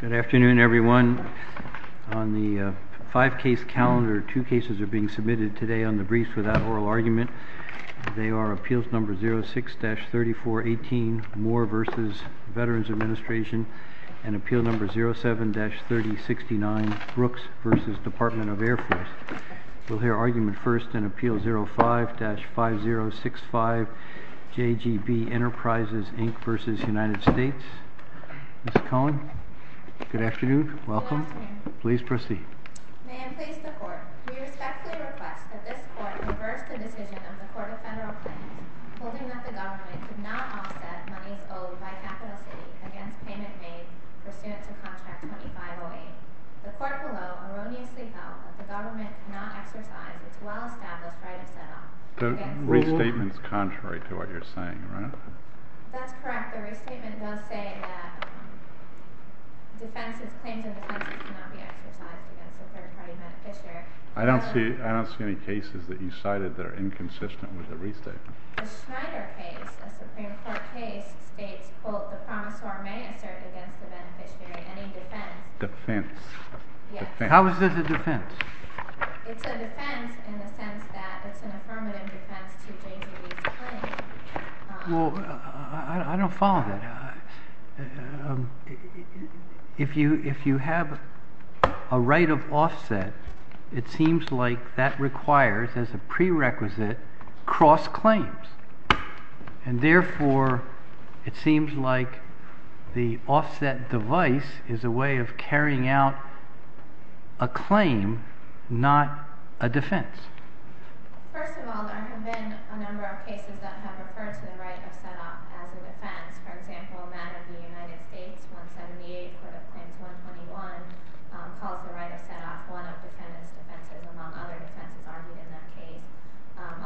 Good afternoon, everyone. On the five-case calendar, two cases are being submitted today on the briefs without oral argument. They are Appeals No. 06-3418, Moore v. Veterans Administration, and Appeal No. 07-3069, Brooks v. Department of Air Force. We'll hear argument first in Appeal 05-5065, J.G.B. Enterprises Inc. v. United States. Ms. Cohen, good afternoon. Welcome. Please proceed. May I please report, we respectfully request that this Court reverse the decision of the Court of Federal Claims holding that the government could not offset monies owed by Capital City against payment made pursuant to Contract 2508. The Court below erroneously held that the government cannot exercise its well-established right of set-off. The restatement is contrary to what you're saying, right? That's correct. The restatement does say that claims of defense cannot be exercised against a third-party beneficiary. I don't see any cases that you cited that are inconsistent with the restatement. The Schneider case, a Supreme Court case, states, quote, the promisor may assert against the beneficiary any defense. Defense. How is this a defense? It's a defense in the sense that it's an affirmative defense to J.G.B.'s claim. Well, I don't follow that. If you have a right of offset, it seems like that requires, as a prerequisite, cross-claims. And therefore, it seems like the offset device is a way of not a defense. First of all, there have been a number of cases that have referred to the right of set-off as a defense. For example, a man of the United States, 178, could have claimed 121, called the right of set-off one of defendant's defenses, among other defenses argued in that case.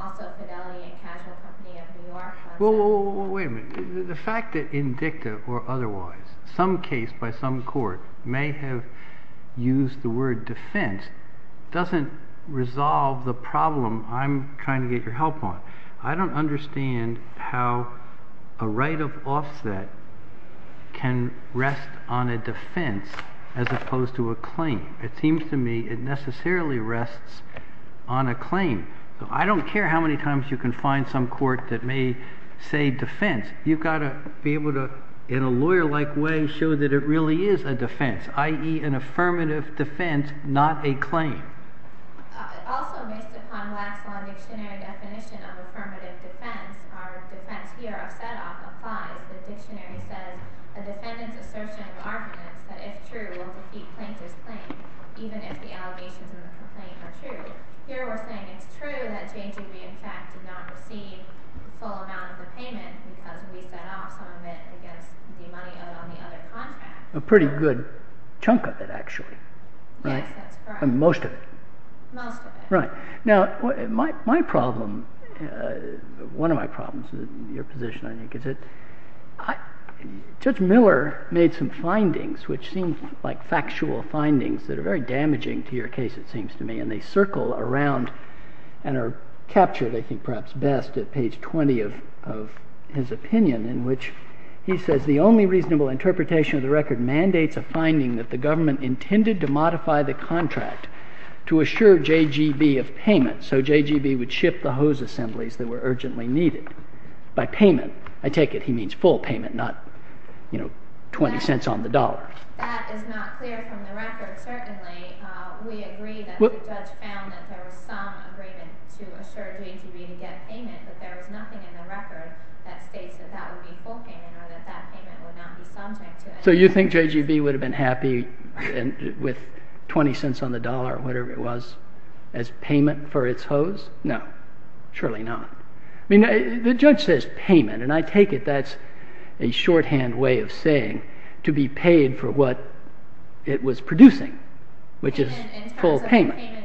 Also, Fidelity and Casual Company of New York. Well, wait a minute. The fact that in dicta or otherwise, some case by some court may have used the word defense doesn't resolve the problem I'm trying to get your help on. I don't understand how a right of offset can rest on a defense as opposed to a claim. It seems to me it necessarily rests on a claim. I don't care how many times you can find some court that may say defense. You've got to be able to, in a lawyer-like way, show that it really is a defense. I.e., an affirmative defense, not a claim. Also, based upon last month's dictionary definition of affirmative defense, our defense here of set-off applies. The dictionary says, a defendant's assertion of arguments that, if true, will compete plaintiff's claim, even if the allegations in the complaint are true. Here, we're saying it's true that Jay Degree, in fact, did not receive the full amount of the payment because we set off some of it against the money owed on the other contract. A pretty good chunk of it, actually. Yes, that's correct. Most of it. Most of it. Right. Now, one of my problems with your position, I think, is that Judge Miller made some findings, which seem like factual findings that are very damaging to your case, it seems to me, and they circle around and are captured, I think perhaps best, at page 20 of his opinion, in which he says, the only reasonable interpretation of the record mandates a finding that the government intended to modify the contract to assure JGB of payment so JGB would ship the hose assemblies that were urgently needed by payment. I take it he means full payment, not, you know, $0.20 on the dollar. That is not clear from the record, certainly. We agree that the judge found that there was some agreement to assure JGB to get payment, but there was nothing in the record that states that that would be full payment or that that payment would not be subject to it. So you think JGB would have been happy with $0.20 on the dollar or whatever it was as payment for its hose? No. Surely not. I mean, the judge says payment, and I take it that's a shorthand way of saying to be paid for what it was producing, which is full payment.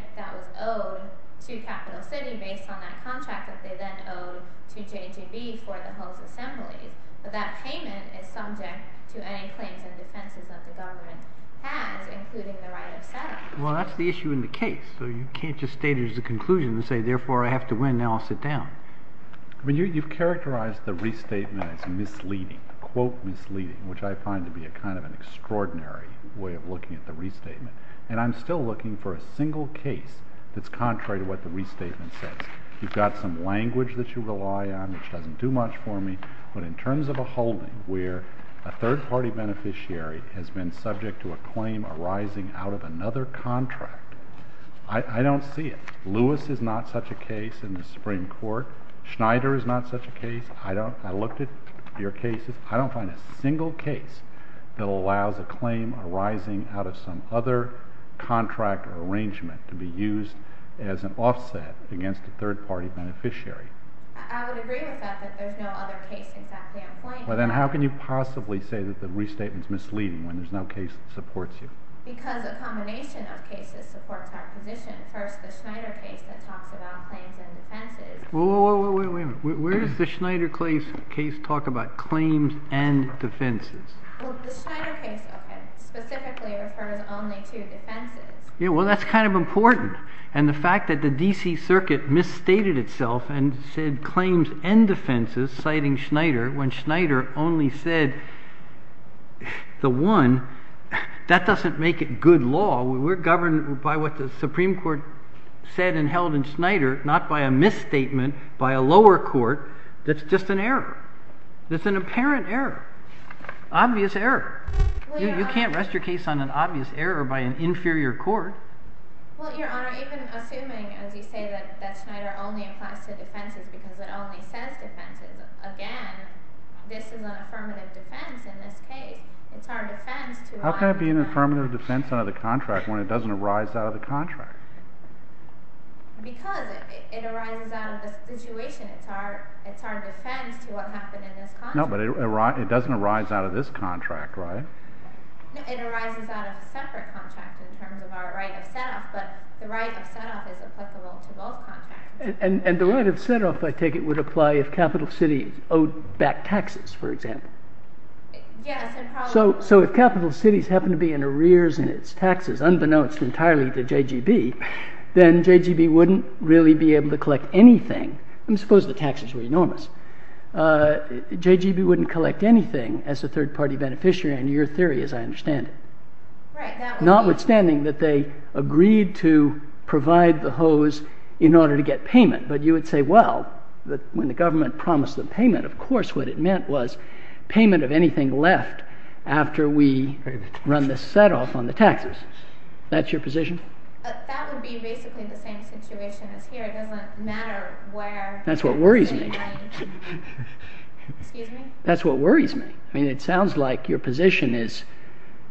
Well, that's the issue in the case, so you can't just state it as a conclusion and say, therefore, I have to win, now I'll sit down. You've characterized the restatement as misleading, quote, misleading, which I find to be kind of an extraordinary way of looking at the restatement, that's contrary to what the restatement says. You've got some language that you rely on, which doesn't do much for me, but in terms of a holding where a third-party beneficiary has been subject to a claim arising out of another contract, I don't see it. Lewis is not such a case in the Supreme Court. Schneider is not such a case. I looked at your cases. I don't find a single case that allows a claim arising out of some other contract or arrangement to be used as an offset against a third-party beneficiary. I would agree with that, that there's no other case exactly on point. Well, then how can you possibly say that the restatement is misleading when there's no case that supports you? Because a combination of cases supports our position. First, the Schneider case that talks about claims and defenses. Wait a minute. Where does the Schneider case talk about claims and defenses? Well, the Schneider case specifically refers only to defenses. Well, that's kind of important. And the fact that the D.C. Circuit misstated itself and said claims and defenses, citing Schneider, when Schneider only said the one, that doesn't make it good law. We're governed by what the Supreme Court said and held in Schneider, not by a misstatement by a lower court that's just an error, that's an apparent error, obvious error. You can't rest your case on an obvious error by an inferior court. Well, Your Honor, even assuming, as you say, that Schneider only applies to defenses because it only says defenses, again, this is an affirmative defense in this case. It's our defense to rise out of the contract. How can it be an affirmative defense out of the contract when it doesn't arise out of the contract? Because it arises out of the situation. It's our defense to what happened in this contract. No, but it doesn't arise out of this contract, right? No, it arises out of separate contracts in terms of our right of set-off, but the right of set-off is applicable to both contracts. And the right of set-off, I take it, would apply if Capital City owed back taxes, for example? Yes. So if Capital City's happened to be in arrears in its taxes, unbeknownst entirely to JGB, then JGB wouldn't really be able to collect anything. I mean, suppose the taxes were enormous. JGB wouldn't collect anything as a third-party beneficiary, in your theory, as I understand it. Right, that would be... Notwithstanding that they agreed to provide the hose in order to get payment. But you would say, well, when the government promised the payment, of course what it meant was payment of anything left after we run the set-off on the taxes. That's your position? That would be basically the same situation as here. It doesn't matter where... Excuse me? That's what worries me. I mean, it sounds like your position is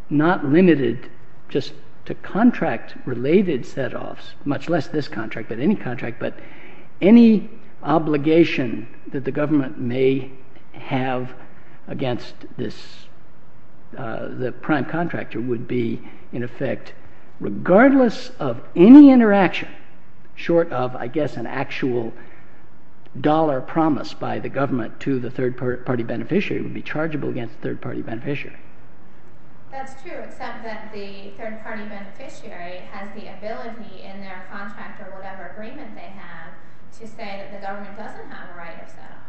not limited just to contract-related set-offs, much less this contract, but any contract, but any obligation that the government may have against the prime contractor would be, in effect, regardless of any interaction, short of, I guess, an actual dollar promise by the government to the third-party beneficiary would be chargeable against the third-party beneficiary. That's true, except that the third-party beneficiary has the ability, in their contract or whatever agreement they have, to say that the government doesn't have a right of set-off.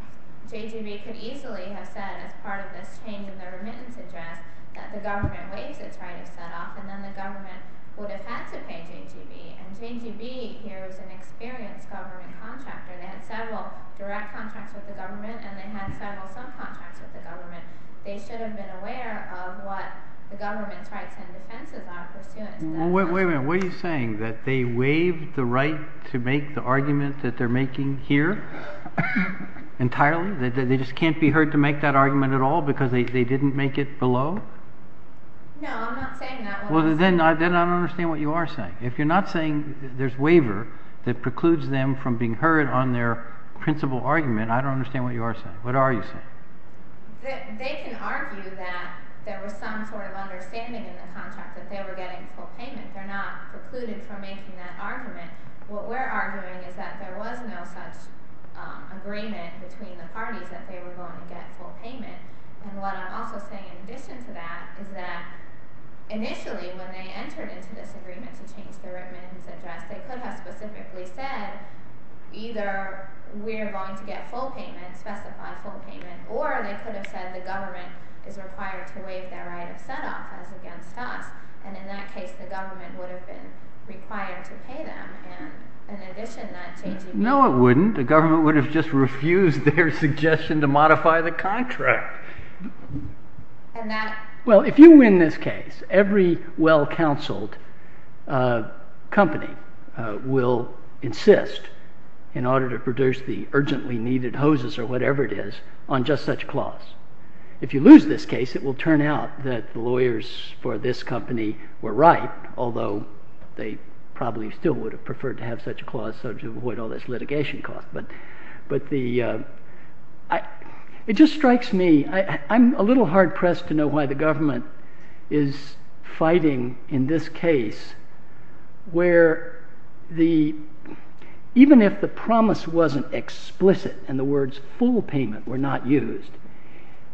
JGB could easily have said, as part of this change in their remittance address, that the government waives its right of set-off, and then the government would have had to pay JGB. And JGB here is an experienced government contractor. They had several direct contracts with the government and they had several subcontracts with the government. They should have been aware of what the government's rights and defenses are pursuant to that contract. Wait a minute. What are you saying? That they waived the right to make the argument that they're making here? Entirely? That they just can't be heard to make that argument at all because they didn't make it below? No, I'm not saying that. Well, then I don't understand what you are saying. If you're not saying there's a waiver that precludes them from being heard on their principal argument, I don't understand what you are saying. What are you saying? They can argue that there was some sort of understanding in the contract that they were getting full payment. They're not precluded from making that argument. What we're arguing is that there was no such agreement between the parties that they were going to get full payment. And what I'm also saying, in addition to that, is that initially, when they entered into this agreement to change the writ man's address, they could have specifically said, either we're going to get full payment, specified full payment, or they could have said the government is required to waive their right of set-off as against us. And in that case, the government would have been required to pay them. And in addition to that, changing the contract. No, it wouldn't. The government would have just refused their suggestion to modify the contract. Well, if you win this case, every well-counseled company will insist, in order to produce the urgently needed hoses or whatever it is, on just such a clause. If you lose this case, it will turn out that the lawyers for this company were right, although they probably still would have preferred to have such a clause so as to avoid all this litigation cost. It just strikes me. I'm a little hard-pressed to know why the government is fighting in this case, where even if the promise wasn't explicit and the words full payment were not used,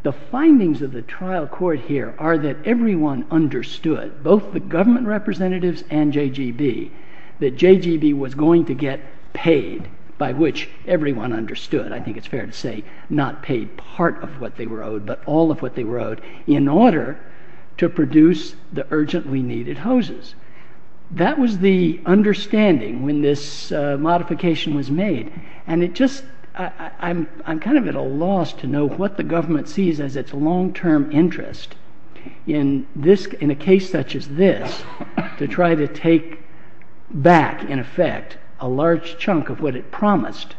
the findings of the trial court here are that everyone understood, both the government representatives and JGB, that JGB was going to get paid, by which everyone understood. I think it's fair to say not paid part of what they were owed, but all of what they were owed, in order to produce the urgently needed hoses. That was the understanding when this modification was made. And I'm kind of at a loss to know what the government sees as its long-term interest in a case such as this to try to take back, in effect, a large chunk of what it promised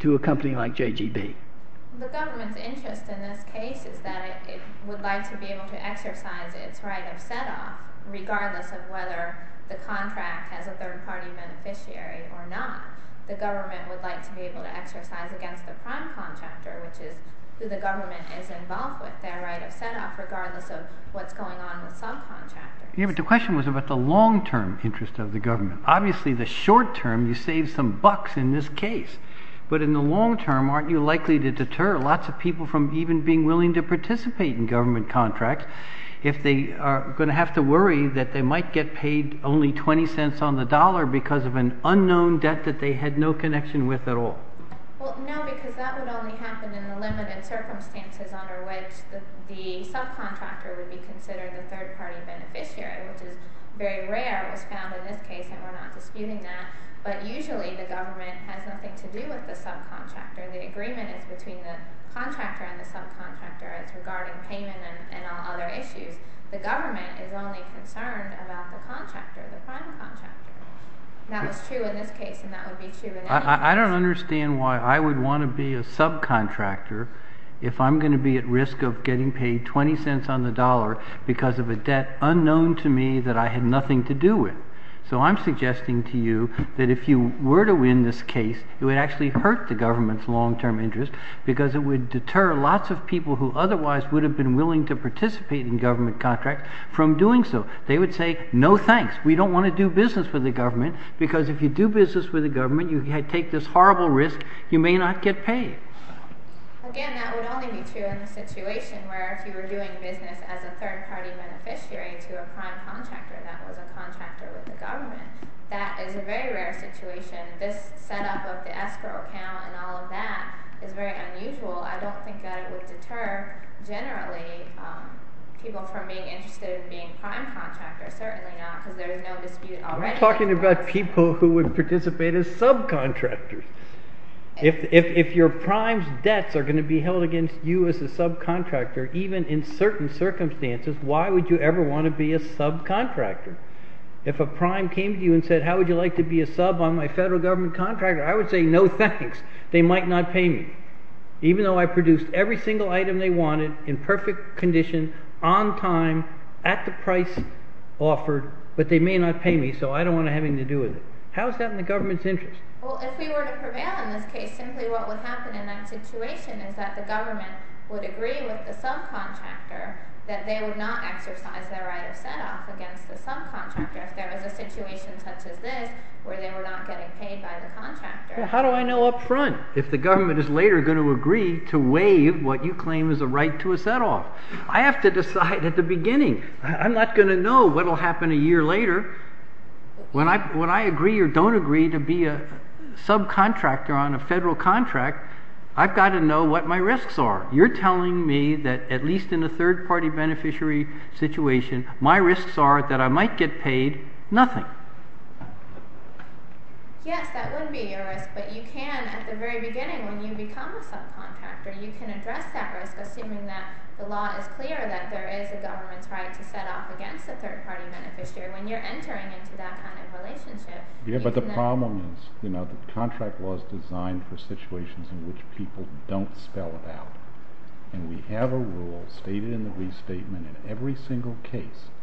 to a company like JGB. The government's interest in this case is that it would like to be able to exercise its right of set-off regardless of whether the contract has a third-party beneficiary or not. The government would like to be able to exercise against the prime contractor, which is who the government is involved with, their right of set-off, regardless of what's going on with subcontractors. The question was about the long-term interest of the government. Obviously, the short-term, you save some bucks in this case. But in the long-term, aren't you likely to deter lots of people from even being willing to participate in government contracts if they are going to have to worry that they might get paid only 20 cents on the dollar because of an unknown debt that they had no connection with at all? No, because that would only happen in the limited circumstances under which the subcontractor would be considered the third-party beneficiary, which is very rare. It was found in this case, and we're not disputing that. But usually the government has nothing to do with the subcontractor. The agreement is between the contractor and the subcontractor. It's regarding payment and all other issues. The government is only concerned about the contractor, the prime contractor. That was true in this case, and that would be true in any case. I don't understand why I would want to be a subcontractor if I'm going to be at risk of getting paid 20 cents on the dollar because of a debt unknown to me that I had nothing to do with. So I'm suggesting to you that if you were to win this case, it would actually hurt the government's long-term interest because it would deter lots of people who otherwise would have been willing to participate in government contracts from doing so. They would say, no thanks, we don't want to do business with the government because if you do business with the government, you take this horrible risk, you may not get paid. Again, that would only be true in the situation where if you were doing business as a third-party beneficiary to a prime contractor that was a contractor with the government. That is a very rare situation. This setup of the escrow account and all of that is very unusual. I don't think that it would deter, generally, people from being interested in being prime contractors. Certainly not, because there is no dispute already. I'm talking about people who would participate as subcontractors. If your prime's debts are going to be held against you as a subcontractor, even in certain circumstances, why would you ever want to be a subcontractor? If a prime came to you and said, how would you like to be a sub on my federal government contractor? I would say, no thanks, they might not pay me. Even though I produced every single item they wanted in perfect condition, on time, at the price offered, but they may not pay me, so I don't want to have anything to do with it. How is that in the government's interest? Well, if we were to prevail in this case, simply what would happen in that situation is that the government would agree with the subcontractor that they would not exercise their right of set-off against the subcontractor if there was a situation such as this where they were not getting paid by the contractor. How do I know up front if the government is later going to agree to waive what you claim is a right to a set-off? I have to decide at the beginning. I'm not going to know what will happen a year later. When I agree or don't agree to be a subcontractor on a federal contract, I've got to know what my risks are. You're telling me that, at least in a third-party beneficiary situation, my risks are that I might get paid nothing. Yes, that would be a risk, but you can, at the very beginning, when you become a subcontractor, you can address that risk assuming that the law is clear that there is a government's right to set-off against a third-party beneficiary when you're entering into that kind of relationship. Yes, but the problem is the contract law is designed for situations in which people don't spell it out, and we have a rule stated in the restatement in every single case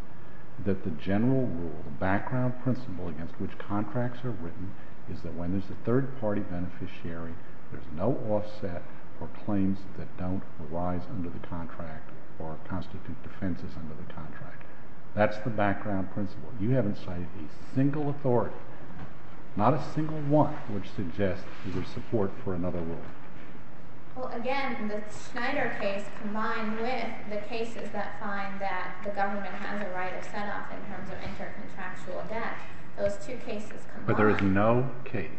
that the general rule, the background principle against which contracts are written is that when there's a third-party beneficiary, there's no offset for claims that don't arise under the contract or constitute defenses under the contract. That's the background principle. You haven't cited a single authority, not a single one, which suggests there's a support for another rule. Well, again, the Schneider case combined with the cases that find that the government has a right of set-off in terms of intercontractual debt, those two cases combine. But there is no case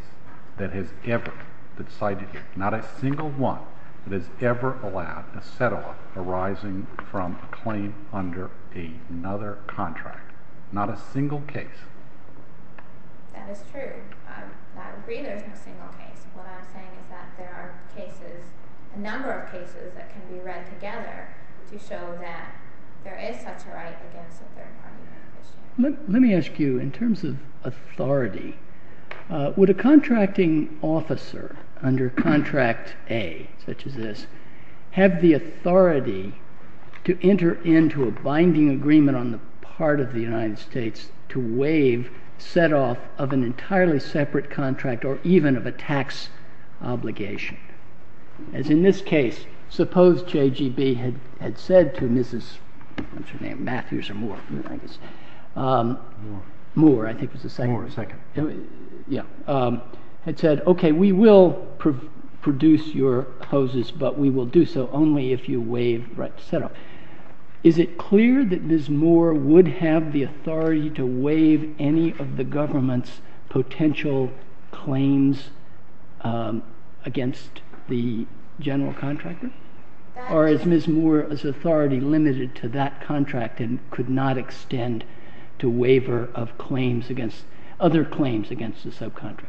that has ever been cited here, not a single one that has ever allowed a set-off arising from a claim under another contract. Not a single case. That is true. I agree there's no single case. What I'm saying is that there are cases, a number of cases that can be read together to show that there is such a right against a third-party beneficiary. Let me ask you, in terms of authority, would a contracting officer under contract A, such as this, have the authority to enter into a binding agreement on the part of the United States to waive set-off of an entirely separate contract or even of a tax obligation? As in this case, suppose JGB had said to Mrs. Matthews, Moore, I think it was the second. It said, OK, we will produce your hoses, but we will do so only if you waive the right to set-off. Is it clear that Mrs. Moore would have the authority to waive any of the government's potential claims against the general contractor? Or is Mrs. Moore's authority limited to that contract and could not extend to waiver of other claims against the subcontractor?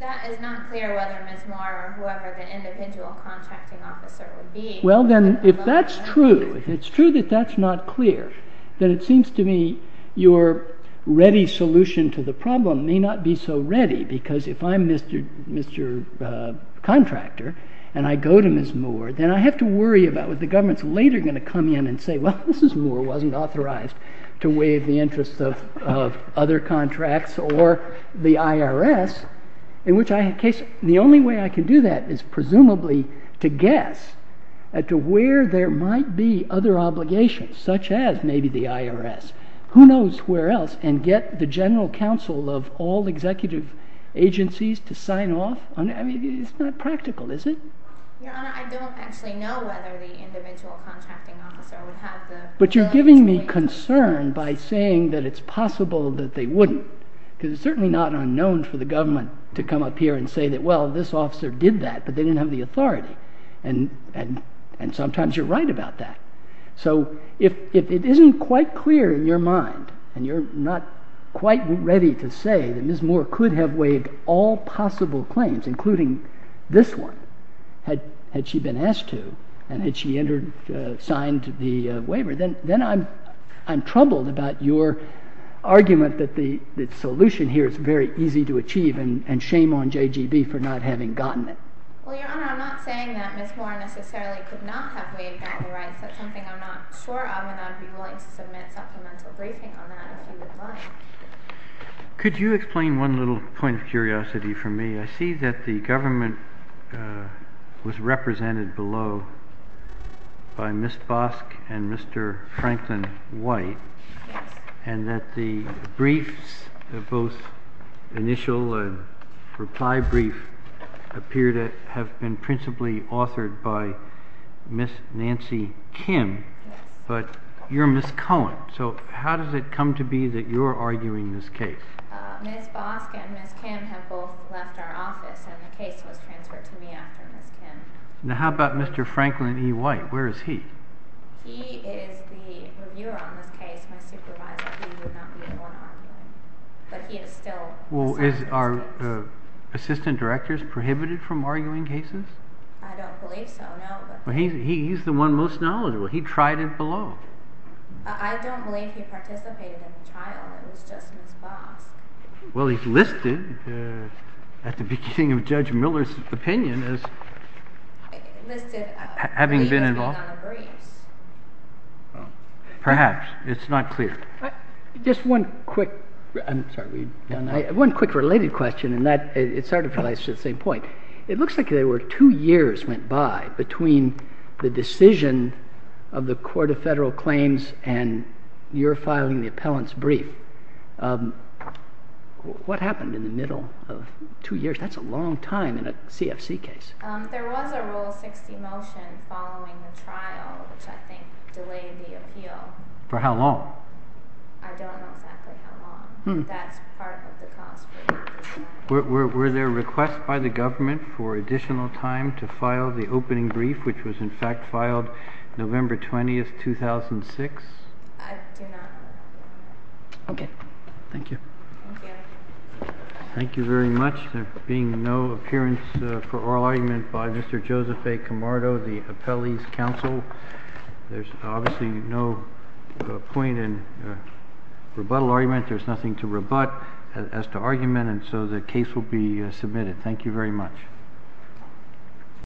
That is not clear whether Mrs. Moore or whoever the individual contracting officer would be. Well, then, if that's true, if it's true that that's not clear, then it seems to me your ready solution to the problem may not be so ready, because if I'm Mr. Contractor and I go to Mrs. Moore, then I have to worry about what the government's later going to come in and say, well, Mrs. Moore wasn't authorized to waive the interest of other contracts or the IRS. The only way I can do that is presumably to guess as to where there might be other obligations, such as maybe the IRS. Who knows where else? And get the general counsel of all executive agencies to sign off on it? It's not practical, is it? Your Honor, I don't actually know whether the individual contracting officer would have the ability to waive all claims. But you're giving me concern by saying that it's possible that they wouldn't. Because it's certainly not unknown for the government to come up here and say that, well, this officer did that, but they didn't have the authority. And sometimes you're right about that. So if it isn't quite clear in your mind and you're not quite ready to say that Mrs. Moore could have waived all possible claims, including this one, had she been asked to and had she signed the waiver, then I'm troubled about your argument that the solution here is very easy to achieve and shame on JGB for not having gotten it. Well, Your Honor, I'm not saying that Mrs. Moore necessarily could not have waived all the rights. That's something I'm not sure of, and I'd be willing to submit a supplemental briefing on that if you would like. Could you explain one little point of curiosity for me? I see that the government was represented below by Ms. Bosk and Mr. Franklin White and that the briefs, both initial and reply brief, appear to have been principally authored by Ms. Nancy Kim. But you're Ms. Cohen, so how does it come to be that you're arguing this case? Ms. Bosk and Ms. Kim have both left our office and the case was transferred to me after Ms. Kim. Now, how about Mr. Franklin E. White? Where is he? He is the reviewer on this case, my supervisor. He would not be the one arguing, but he is still serving this case. Well, are assistant directors prohibited from arguing cases? I don't believe so, no. Well, he's the one most knowledgeable. He tried it below. I don't believe he participated in the trial. It was just Ms. Bosk. Well, he's listed at the beginning of Judge Miller's opinion as having been involved. He's listed as being on the briefs. Perhaps. It's not clear. Just one quick related question, and it sort of relates to the same point. It looks like there were two years went by between the decision of the Court of Federal Claims and your filing the appellant's brief. What happened in the middle of two years? That's a long time in a CFC case. There was a Rule 60 motion following the trial, which I think delayed the appeal. For how long? I don't know exactly how long. That's part of the cost. Were there requests by the government for additional time to file the opening brief, which was in fact filed November 20, 2006? I do not. Okay. Thank you. Thank you. Thank you very much. There being no appearance for oral argument by Mr. Joseph A. Camardo, the appellee's counsel, there's obviously no point in rebuttal argument. There's nothing to rebut as to argument, and so the case will be submitted. Thank you very much.